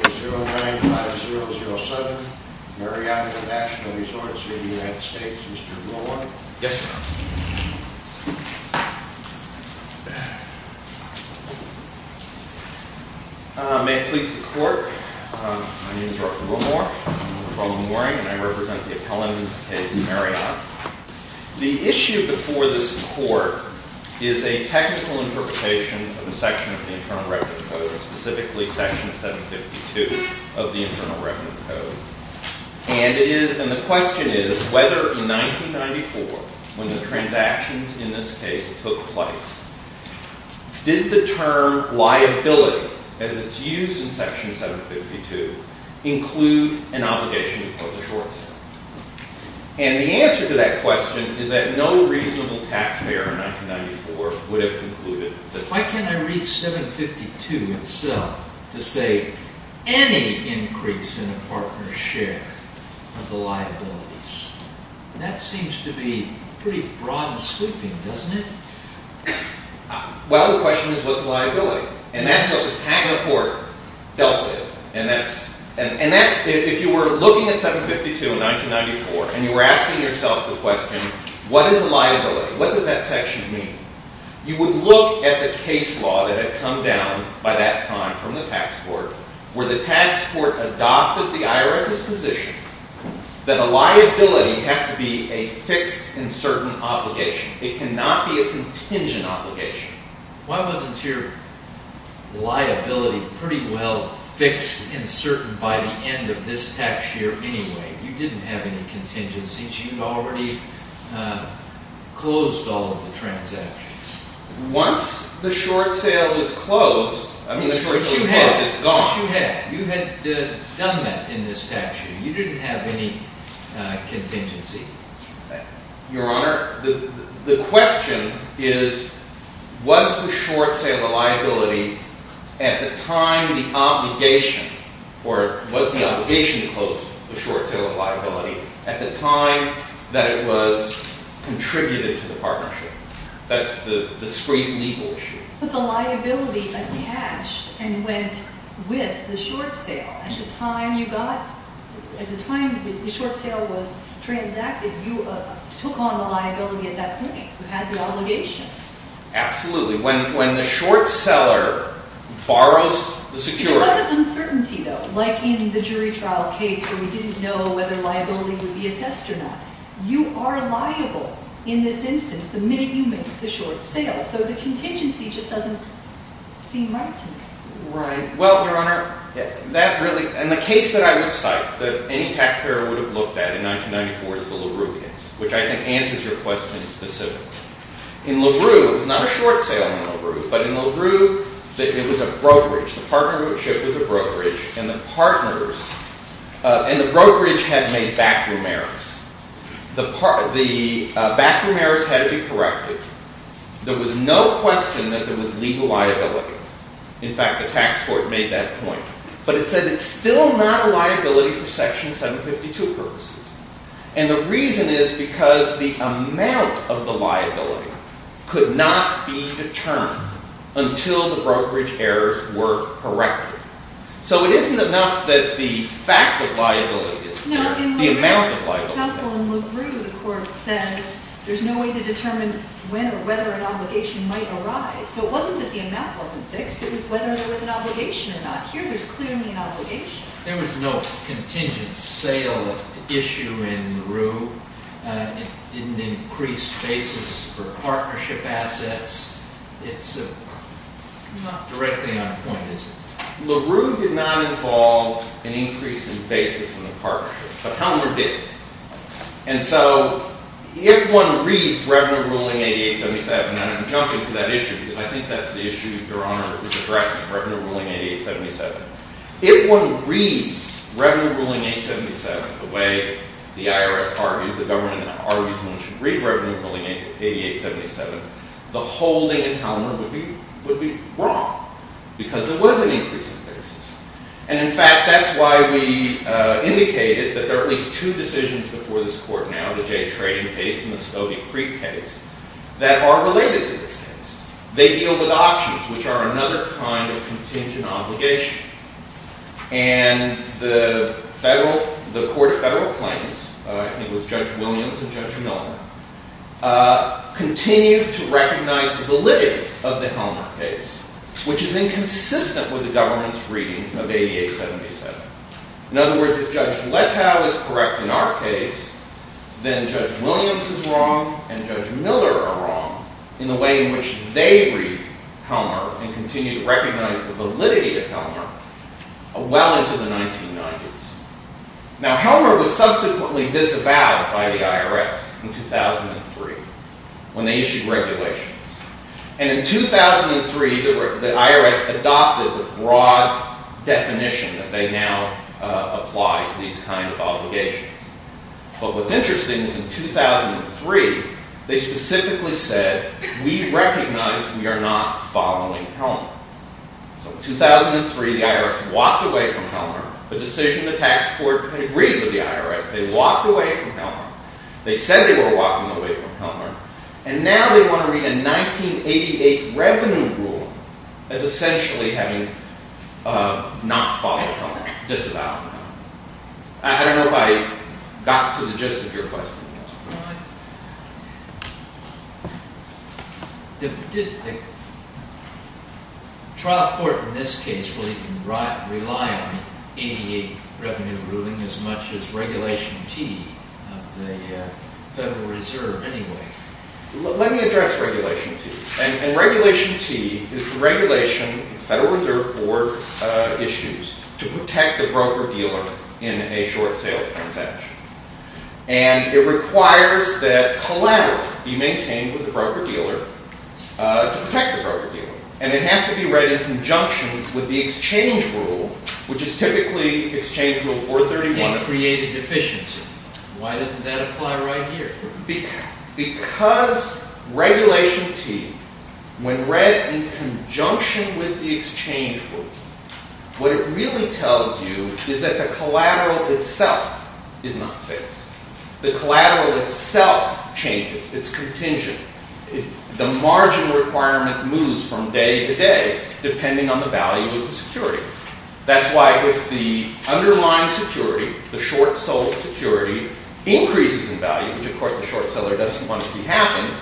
0907 Marriot International Resorts v. United States, Mr. Gilmour. Yes, sir. May it please the Court, my name is Arthur Gilmour. I'm a pro-memory and I represent the appellant in this case, Marriot. The issue before this Court is a technical interpretation of a section of the Internal Records Code, specifically Section 752 of the Internal Records Code. And the question is whether in 1994, when the transactions in this case took place, did the term liability, as it's used in Section 752, include an obligation to put the shorts on? And the answer to that question is that no reasonable taxpayer in 1994 would have concluded that. So why can't I read 752 itself to say any increase in a partner's share of the liabilities? And that seems to be pretty broad and sweeping, doesn't it? Well, the question is what's liability? And that's what the patent court dealt with. And that's, if you were looking at 752 in 1994 and you were asking yourself the question, what is liability, what does that section mean? You would look at the case law that had come down by that time from the tax court, where the tax court adopted the IRS's position that a liability has to be a fixed and certain obligation. It cannot be a contingent obligation. Why wasn't your liability pretty well fixed and certain by the end of this tax year anyway? You didn't have any contingencies. You had already closed all of the transactions. Once the short sale was closed, I mean, the short sale was closed. It's gone. Yes, you had. You had done that in this tax year. You didn't have any contingency. Your Honor, the question is, was the short sale a liability at the time the obligation, or was the obligation to close the short sale a liability at the time that it was contributed to the partnership? That's the discrete legal issue. But the liability attached and went with the short sale. At the time you got, at the time the short sale was transacted, you took on the liability at that point. You had the obligation. Absolutely. When the short seller borrows the security. There was an uncertainty, though, like in the jury trial case where we didn't know whether liability would be assessed or not. You are liable in this instance the minute you make the short sale. So the contingency just doesn't seem right to me. Right. Well, Your Honor, that really, and the case that I would cite that any taxpayer would have looked at in 1994 is the LaRue case, which I think answers your question specifically. In LaRue, it was not a short sale in LaRue. But in LaRue, it was a brokerage. The partnership was a brokerage. And the partners, and the brokerage had made backroom errors. The backroom errors had to be corrected. There was no question that there was legal liability. In fact, the tax court made that point. But it said it's still not a liability for Section 752 purposes. And the reason is because the amount of the liability could not be determined until the brokerage errors were corrected. So it isn't enough that the fact of liability is fixed, the amount of liability. No, in the counsel in LaRue, the court says there's no way to determine when or whether an obligation might arise. So it wasn't that the amount wasn't fixed. It was whether there was an obligation or not. Here, there's clearly an obligation. There was no contingent sale issue in LaRue. It didn't increase basis for partnership assets. It's not directly on point, is it? LaRue did not involve an increase in basis in the partnership. But Helmer did. And so if one reads Revenue Ruling 8877, and I'm jumping to that issue because I think that's the issue Your Honor is addressing, Revenue Ruling 8877. If one reads Revenue Ruling 877 the way the IRS argues, the government argues one should read Revenue Ruling 8877, the holding in Helmer would be wrong because there was an increase in basis. And in fact, that's why we indicated that there are at least two decisions before this court now, the Jay Trading case and the Stoney Creek case, that are related to this case. They deal with options, which are another kind of contingent obligation. And the court of federal claims, I think it was Judge Williams and Judge Miller, continue to recognize the validity of the Helmer case, which is inconsistent with the government's reading of 8877. In other words, if Judge Letow is correct in our case, then Judge Williams is wrong and Judge Miller are wrong in the way in which they read Helmer and continue to recognize the validity of Helmer well into the 1990s. Now Helmer was subsequently disavowed by the IRS in 2003 when they issued regulations. And in 2003, the IRS adopted the broad definition that they now apply to these kind of obligations. But what's interesting is in 2003, they specifically said, we recognize we are not following Helmer. So in 2003, the IRS walked away from Helmer. The decision, the tax court agreed with the IRS. They walked away from Helmer. They said they were walking away from Helmer. And now they want to read a 1988 revenue rule as essentially having not followed Helmer, disavowed Helmer. I don't know if I got to the gist of your question. The trial court in this case will even rely on 88 revenue ruling as much as Regulation T of the Federal Reserve anyway. Let me address Regulation T. And Regulation T is the regulation the Federal Reserve Board issues to protect the broker dealer in a short sale transaction. And it requires that collateral be maintained with the broker dealer to protect the broker dealer. And it has to be read in conjunction with the exchange rule, which is typically Exchange Rule 431. It created deficiency. Why doesn't that apply right here? Because Regulation T, when read in conjunction with the exchange rule, what it really tells you is that the collateral itself is not fixed. The collateral itself changes. It's contingent. The marginal requirement moves from day to day depending on the value of the security. That's why if the underlying security, the short sold security, increases in value, which of course the short seller doesn't want to see happen,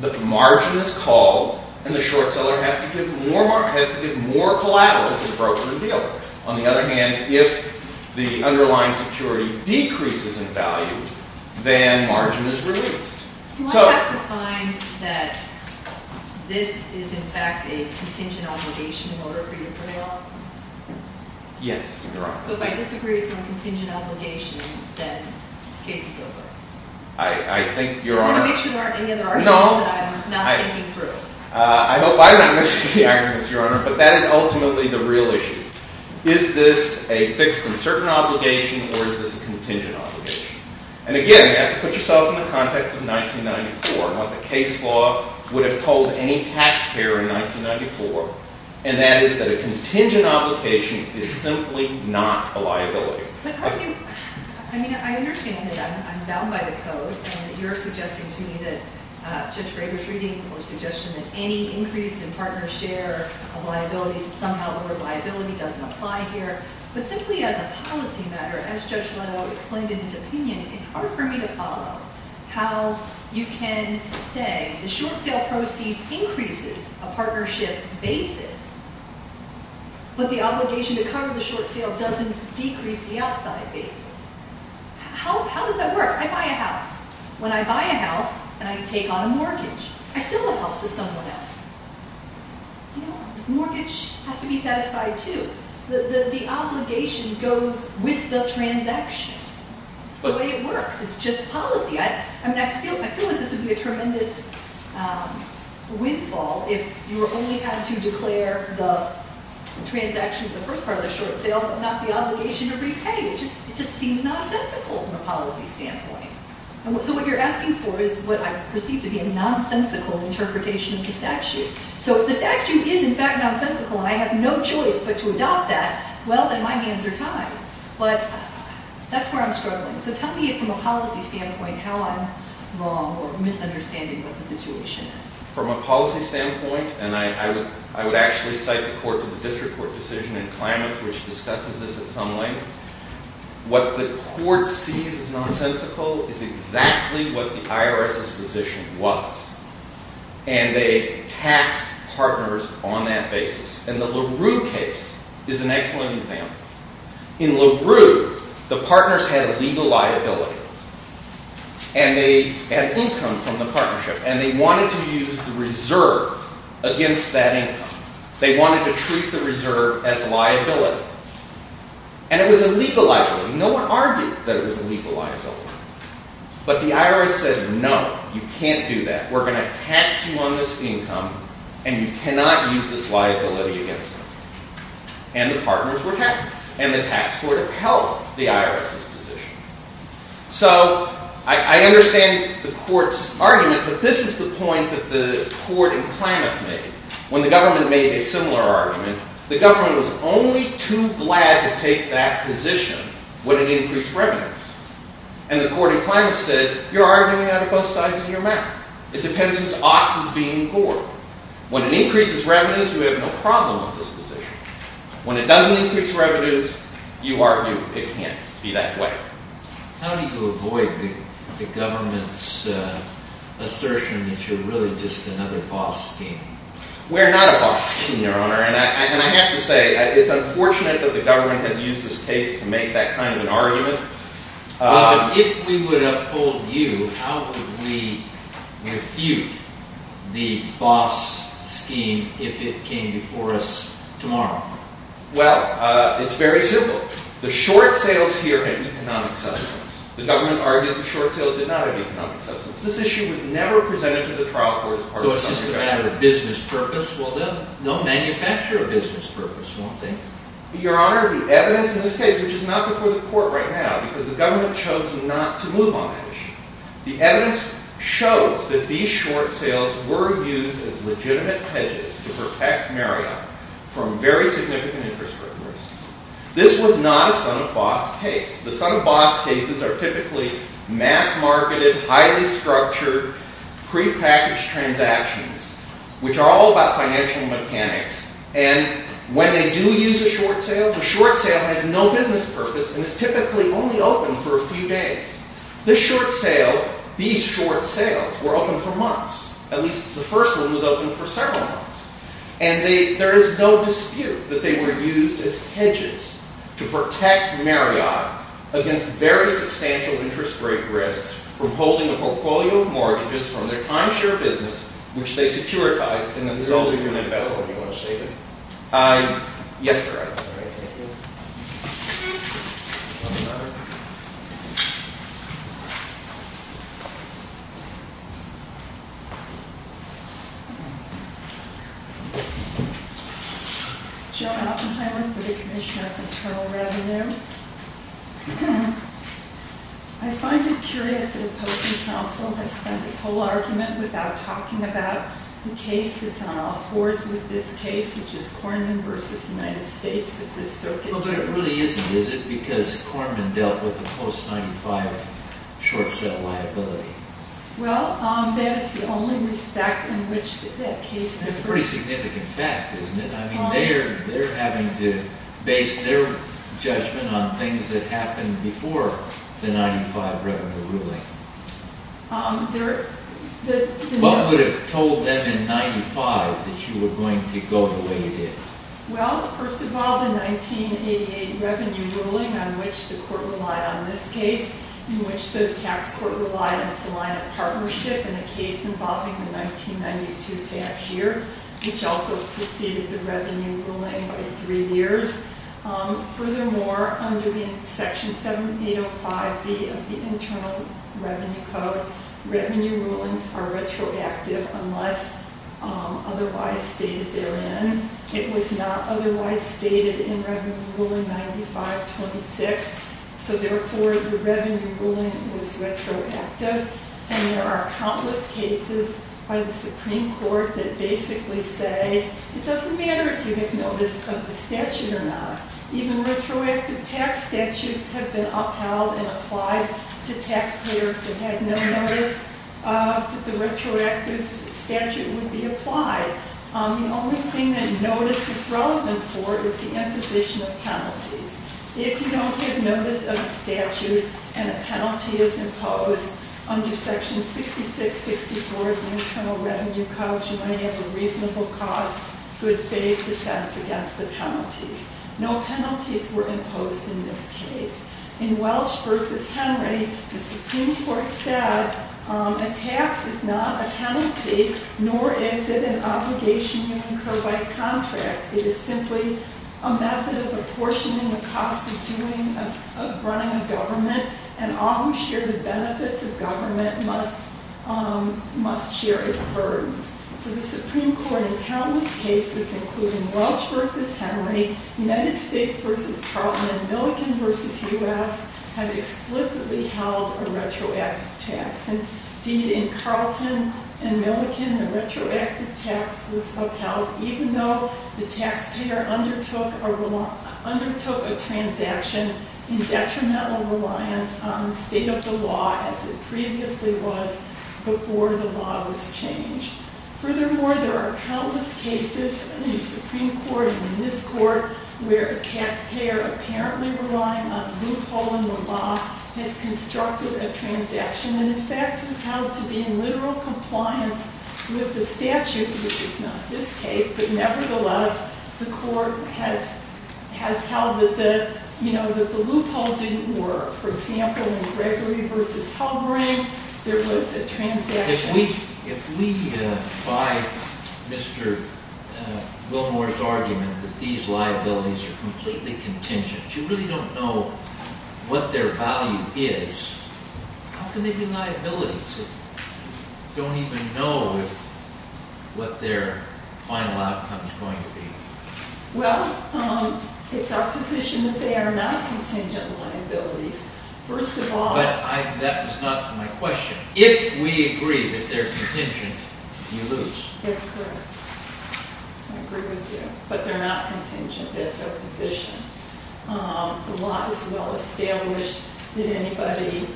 the margin is called and the short seller has to give more collateral to the broker and dealer. On the other hand, if the underlying security decreases in value, then margin is released. Do I have to find that this is in fact a contingent obligation in order for you to prevail? Yes, Your Honor. So if I disagree with your contingent obligation, then the case is over? I think, Your Honor. I just want to make sure there aren't any other arguments that I'm not thinking through. I hope I'm not missing any arguments, Your Honor. But that is ultimately the real issue. Is this a fixed and certain obligation or is this a contingent obligation? And again, you have to put yourself in the context of 1994 and what the case law would have told any taxpayer in 1994, and that is that a contingent obligation is simply not a liability. I mean, I understand that I'm bound by the code and that you're suggesting to me that Judge Rader's reading or suggestion that any increase in partner's share of liabilities, somehow the word liability doesn't apply here. But simply as a policy matter, as Judge Rader explained in his opinion, it's hard for me to follow how you can say the short sale proceeds increases a partnership basis, but the obligation to cover the short sale doesn't decrease the outside basis. How does that work? I buy a house. When I buy a house, then I take on a mortgage. I sell the house to someone else. You know, mortgage has to be satisfied too. The obligation goes with the transaction. It's the way it works. It's just policy. I mean, I feel like this would be a tremendous windfall if you only had to declare the transaction in the first part of the short sale but not the obligation to repay. It just seems nonsensical from a policy standpoint. So what you're asking for is what I perceive to be a nonsensical interpretation of the statute. So if the statute is, in fact, nonsensical and I have no choice but to adopt that, well, then my hands are tied. But that's where I'm struggling. So tell me from a policy standpoint how I'm wrong or misunderstanding what the situation is. From a policy standpoint, and I would actually cite the court to the district court decision in Klamath, which discusses this at some length, what the court sees as nonsensical is exactly what the IRS's position was. And they taxed partners on that basis. And the LaRue case is an excellent example. In LaRue, the partners had a legal liability, and they had income from the partnership, and they wanted to use the reserve against that income. They wanted to treat the reserve as liability. And it was a legal liability. No one argued that it was a legal liability. But the IRS said, no, you can't do that. We're going to tax you on this income, and you cannot use this liability against us. And the partners were taxed, and the tax court upheld the IRS's position. So I understand the court's argument, but this is the point that the court in Klamath made. When the government made a similar argument, the government was only too glad to take that position when it increased revenues. And the court in Klamath said, you're arguing out of both sides of your mouth. It depends which ox is being bored. When it increases revenues, you have no problem with this position. When it doesn't increase revenues, you argue it can't be that way. How do you avoid the government's assertion that you're really just another boss scheme? We're not a boss scheme, Your Honor. And I have to say, it's unfortunate that the government has used this case to make that kind of an argument. But if we would have told you, how would we refute the boss scheme if it came before us tomorrow? Well, it's very simple. The short sales here had economic substance. The government argues the short sales did not have economic substance. This issue was never presented to the trial court as part of the subject matter. So it's just a matter of business purpose? Well, they'll manufacture a business purpose, won't they? Your Honor, the evidence in this case, which is not before the court right now, because the government chose not to move on that issue. The evidence shows that these short sales were used as legitimate hedges to protect Marriott from very significant interest rate risks. This was not a son of boss case. The son of boss cases are typically mass marketed, highly structured, prepackaged transactions, which are all about financial mechanics. And when they do use a short sale, the short sale has no business purpose and is typically only open for a few days. This short sale, these short sales, were open for months. At least the first one was open for several months. And there is no dispute that they were used as hedges to protect Marriott against very substantial interest rate risks from holding a portfolio of mortgages from their timeshare business, which they securitized. And then there's only going to be a bezel if you want to shave it. Yes, Your Honor. All right. Thank you. Joan Oppenheimer for the Commission of Internal Revenue. I find it curious that a public counsel has spent this whole argument without talking about the case that's on all fours with this case, which is Corman v. United States. Well, but it really isn't, is it? Because Corman dealt with a post-95 short sale liability. Well, that is the only respect in which that case differs. That's a pretty significant fact, isn't it? I mean, they're having to base their judgment on things that happened before the 95 revenue ruling. What would have told them in 95 that you were going to go the way you did? Well, first of all, the 1988 revenue ruling on which the court relied on this case, in which the tax court relied on Salina Partnership in a case involving the 1992 tax year, which also preceded the revenue ruling by three years. Furthermore, under Section 7805B of the Internal Revenue Code, revenue rulings are retroactive unless otherwise stated therein. It was not otherwise stated in Revenue Ruling 95-26. So therefore, the revenue ruling was retroactive. And there are countless cases by the Supreme Court that basically say it doesn't matter if you make notice of the statute or not. Even retroactive tax statutes have been upheld and applied to taxpayers that had no notice that the retroactive statute would be applied. The only thing that notice is relevant for is the imposition of penalties. If you don't give notice of the statute and a penalty is imposed under Section 6664 of the Internal Revenue Code, you might have a reasonable cause, good faith defense against the penalties. No penalties were imposed in this case. In Welch v. Henry, the Supreme Court said a tax is not a penalty, nor is it an obligation you incur by contract. It is simply a method of apportioning the cost of running a government, and all who share the benefits of government must share its burdens. So the Supreme Court, in countless cases, including Welch v. Henry, United States v. Carlton, and Milliken v. U.S., had explicitly held a retroactive tax. Indeed, in Carlton and Milliken, the retroactive tax was upheld even though the taxpayer undertook a transaction in detrimental reliance on the state of the law as it previously was before the law was changed. Furthermore, there are countless cases in the Supreme Court and in this Court where a taxpayer apparently relying on a loophole in the law has constructed a transaction and in fact has held to be in literal compliance with the statute, which is not this case. But nevertheless, the Court has held that the loophole didn't work. For example, in Gregory v. Halbering, there was a transaction. If we buy Mr. Wilmore's argument that these liabilities are completely contingent, you really don't know what their value is, how can they be liabilities? You don't even know what their final outcome is going to be. Well, it's our position that they are not contingent liabilities. But that was not my question. If we agree that they're contingent, you lose. That's correct. I agree with you. But they're not contingent, that's our position. The law is well established. Did anybody,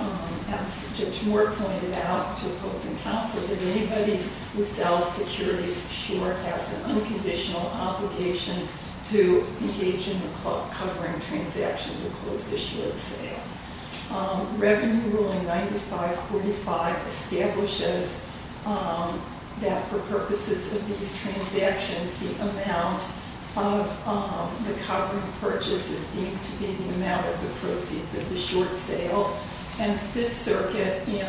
as Judge Moore pointed out to folks in counsel, did anybody who sells securities for sure has an unconditional obligation to engage in a covering transaction to close the short sale? Revenue Ruling 9545 establishes that for purposes of these transactions, the amount of the covering purchase is deemed to be the amount of the proceeds of the short sale. And Fifth Circuit in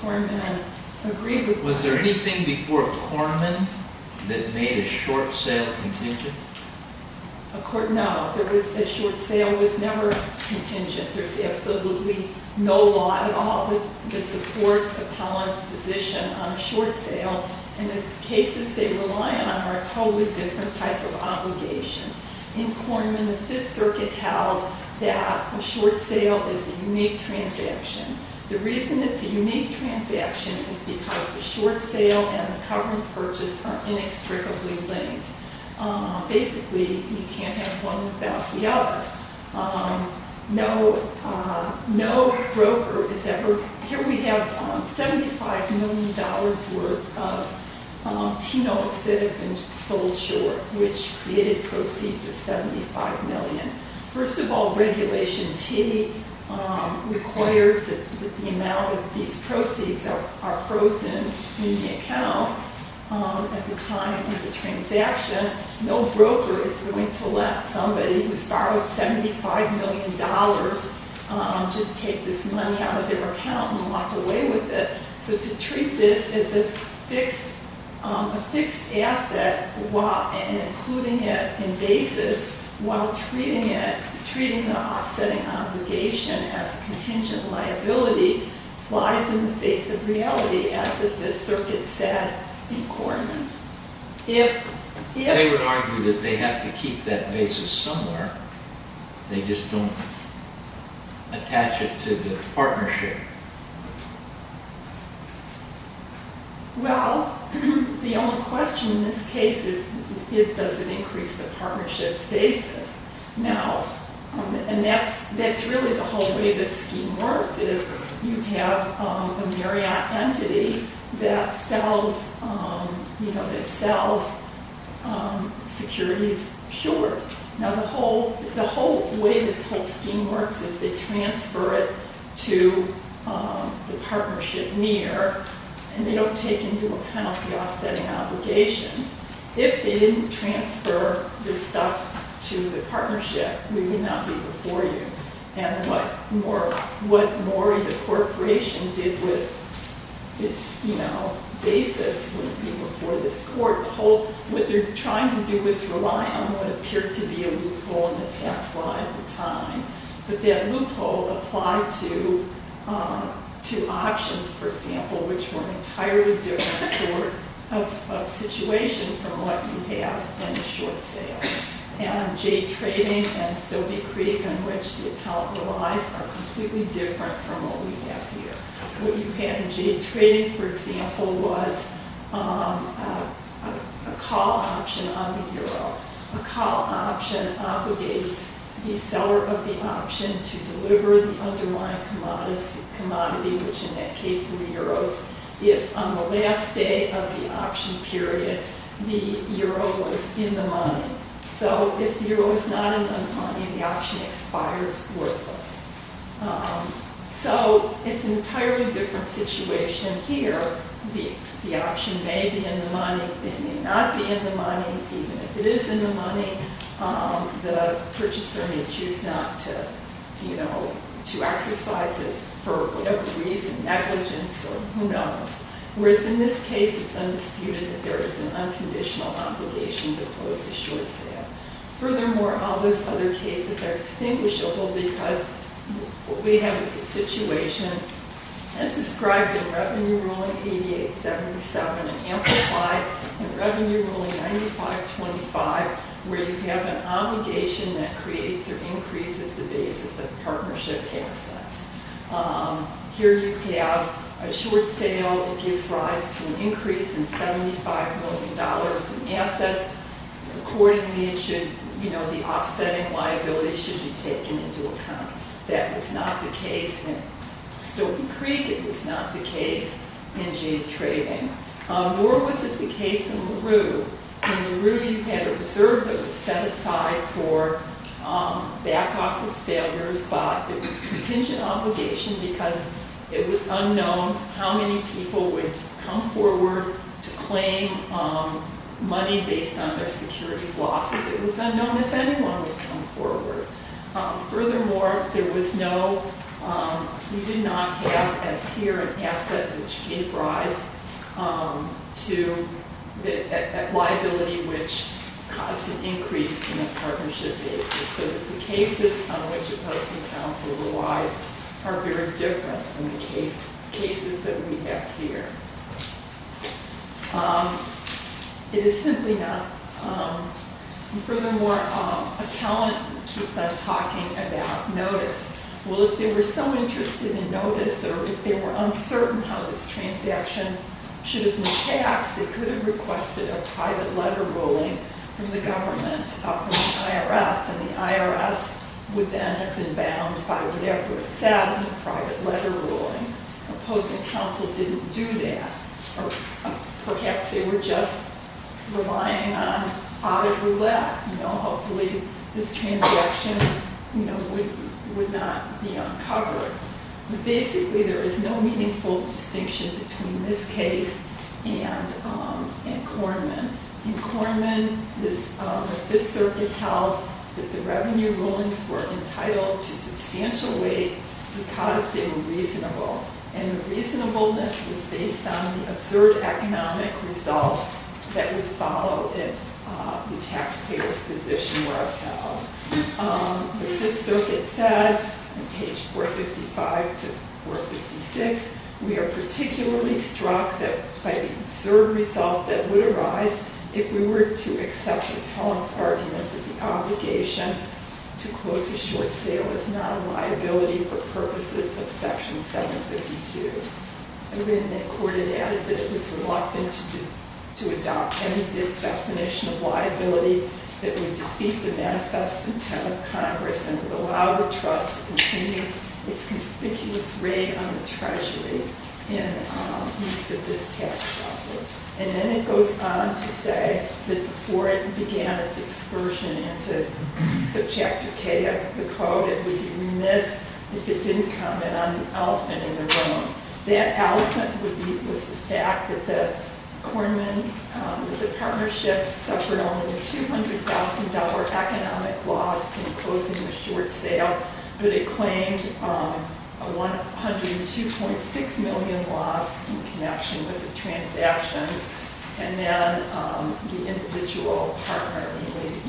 Korman agreed with that. Was there anything before Korman that made a short sale contingent? No, a short sale was never contingent. There's absolutely no law at all that supports Apollon's position on a short sale. And the cases they rely on are a totally different type of obligation. In Korman, the Fifth Circuit held that a short sale is a unique transaction. The reason it's a unique transaction is because the short sale and the covering purchase are inextricably linked. Basically, you can't have one without the other. No broker is ever... Here we have $75 million worth of T-notes that have been sold short, which created proceeds of $75 million. First of all, Regulation T requires that the amount of these proceeds are frozen in the account at the time of the transaction. No broker is going to let somebody who's borrowed $75 million just take this money out of their account and walk away with it. So to treat this as a fixed asset and including it in basis while treating the offsetting obligation as contingent liability flies in the face of reality, as the Fifth Circuit said in Korman. They would argue that they have to keep that basis somewhere. They just don't attach it to the partnership. Well, the only question in this case is, does it increase the partnership's basis? Now, and that's really the whole way this scheme worked, is you have a Marriott entity that sells securities short. Now, the whole way this whole scheme works is they transfer it to the partnership near, and they don't take into account the offsetting obligation. If they didn't transfer this stuff to the partnership, we would not be before you. And what more the corporation did with its basis would be before this court. What they're trying to do is rely on what appeared to be a loophole in the tax law at the time. But that loophole applied to options, for example, which were an entirely different sort of situation from what you have in the short sale. And jade trading and Sylvie Creek, on which the account relies, are completely different from what we have here. What you had in jade trading, for example, was a call option on the euro. A call option obligates the seller of the option to deliver the underlying commodity, which in that case were euros. If on the last day of the option period, the euro was in the money. So if the euro is not in the money, the option expires worthless. So it's an entirely different situation here. The option may be in the money. It may not be in the money. Even if it is in the money, the purchaser may choose not to exercise it for whatever reason, negligence or who knows. Whereas in this case, it's undisputed that there is an unconditional obligation to close the short sale. Furthermore, all those other cases are distinguishable because what we have is a situation as described in Revenue Ruling 8877 and amplified in Revenue Ruling 9525, where you have an obligation that creates or increases the basis of partnership assets. Here you have a short sale that gives rise to an increase in $75 million in assets. Accordingly, the offsetting liability should be taken into account. That was not the case in Stokely Creek. It was not the case in jade trading. Nor was it the case in LaRue. In LaRue, you had a reserve that was set aside for back office failure spot. It was a contingent obligation because it was unknown how many people would come forward to claim money based on their securities losses. It was unknown if anyone would come forward. Furthermore, we did not have as here an asset which gave rise to a liability which caused an increase in the partnership basis. The cases on which the Policy Council relies are very different from the cases that we have here. It is simply not... Furthermore, accountant keeps on talking about notice. Well, if they were so interested in notice or if they were uncertain how this transaction should have been taxed, they could have requested a private letter ruling from the government, from the IRS, and the IRS would then have been bound by whatever it said in the private letter ruling. The Policy Council didn't do that. Perhaps they were just relying on audit roulette. Hopefully, this transaction would not be uncovered. Basically, there is no meaningful distinction between this case and Korman. In Korman, the Fifth Circuit held that the revenue rulings were entitled to substantial weight because they were reasonable. The reasonableness was based on the absurd economic result that would follow if the taxpayers' position were upheld. The Fifth Circuit said, on page 455 to 456, we are particularly struck by the absurd result that would arise if we were to accept Appellant's argument that the obligation to close a short sale is not a liability for purposes of Section 752. In that court, it added that it was reluctant to adopt any definition of liability that would defeat the manifest intent of Congress and would allow the trust to continue its conspicuous reign on the Treasury in the use of this tax shelter. And then it goes on to say that before it began its experssion into Subjective K of the Code, it would be remiss if it didn't comment on the elephant in the room. That elephant would be the fact that the Korman Partnership suffered only a $200,000 economic loss in closing the short sale, but it claimed a $102.6 million loss in connection with the transactions. And then the individual partner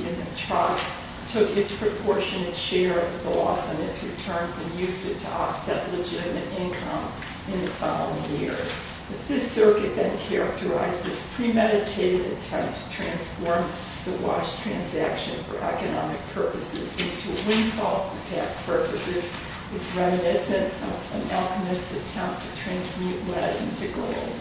in the trust took its proportionate share of the loss and its returns and used it to offset legitimate income in the following years. The Fifth Circuit then characterized this premeditated attempt to transform the wash transaction for economic purposes into a windfall for tax purposes as reminiscent of an alchemist's attempt to transmute lead into gold.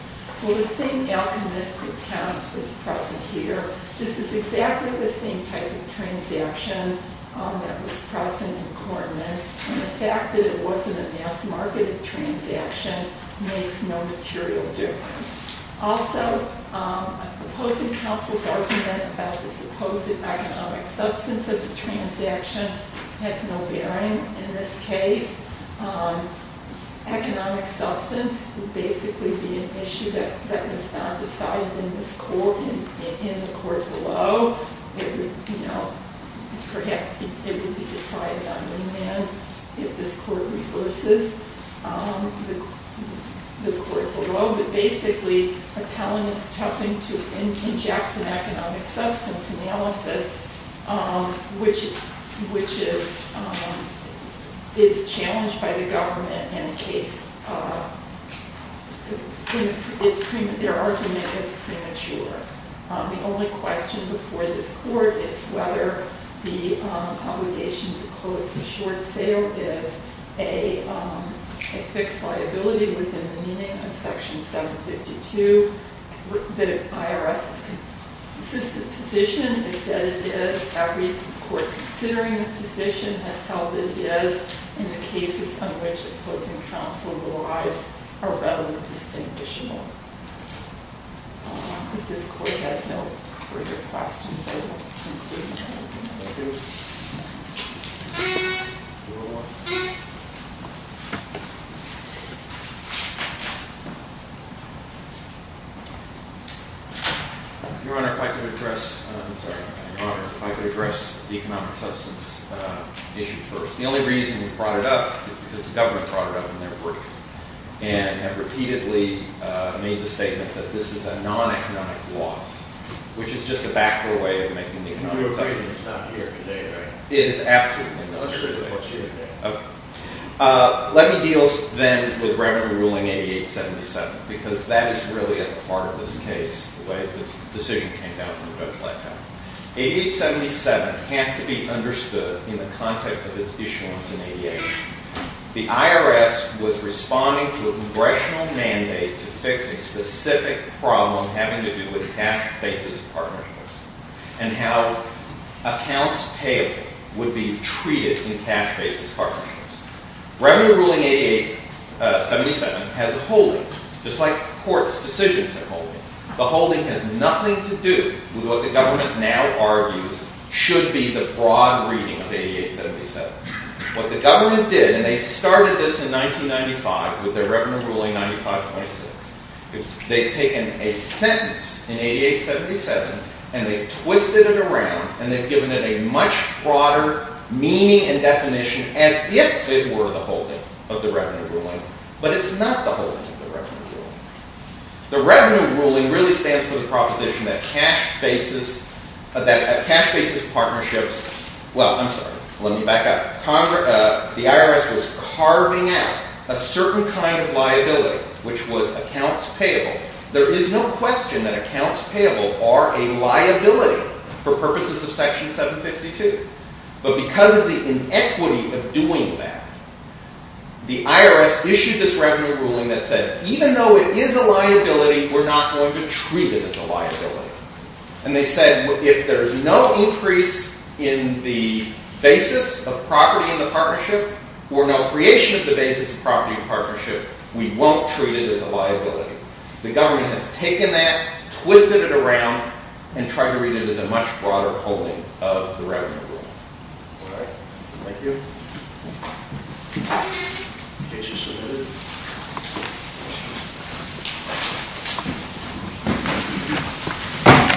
Well, the same alchemist's attempt is present here. This is exactly the same type of transaction that was present in Korman, and the fact that it wasn't a mass-marketed transaction makes no material difference. Also, opposing counsel's argument about the supposed economic substance of the transaction has no bearing in this case. Economic substance would basically be an issue that was not decided in this court, in the court below. Perhaps it would be decided on land if this court reverses the court below, but basically appellant is attempting to inject an economic substance analysis, which is challenged by the government in the case. Their argument is premature. The only question before this court is whether the obligation to close the short sale is a fixed liability within the meaning of Section 752. The IRS's consistent position is that it is. Every court considering the position has held it is, and the cases on which opposing counsel relies are readily distinguishable. If this court has no further questions, I will conclude now. Thank you. Your Honor, if I could address the economic substance issue first. The only reason we brought it up is because the government brought it up in their brief and have repeatedly made the statement that this is a non-economic loss, which is just a backer way of making economic substance. Let me deal then with Revenue Ruling 8877, because that is really a part of this case, the way the decision came down from the judge last time. 8877 has to be understood in the context of its issuance in 88. The IRS was responding to a congressional mandate to fix a specific problem having to do with cash basis partnerships and how accounts payable would be treated in cash basis partnerships. Revenue Ruling 8877 has a holding, just like courts' decisions have holdings. The holding has nothing to do with what the government now argues should be the broad reading of 8877. What the government did, and they started this in 1995 with their Revenue Ruling 9526, is they've taken a sentence in 8877, and they've twisted it around, and they've given it a much broader meaning and definition as if it were the holding of the Revenue Ruling, but it's not the holding of the Revenue Ruling. The Revenue Ruling really stands for the proposition that cash basis partnerships – well, I'm sorry, let me back up. The IRS was carving out a certain kind of liability, which was accounts payable. There is no question that accounts payable are a liability for purposes of Section 752, but because of the inequity of doing that, the IRS issued this Revenue Ruling that said, even though it is a liability, we're not going to treat it as a liability. And they said, if there's no increase in the basis of property in the partnership or no creation of the basis of property in the partnership, we won't treat it as a liability. The government has taken that, twisted it around, and tried to read it as a much broader holding of the Revenue Ruling. All right. Thank you. The case is submitted.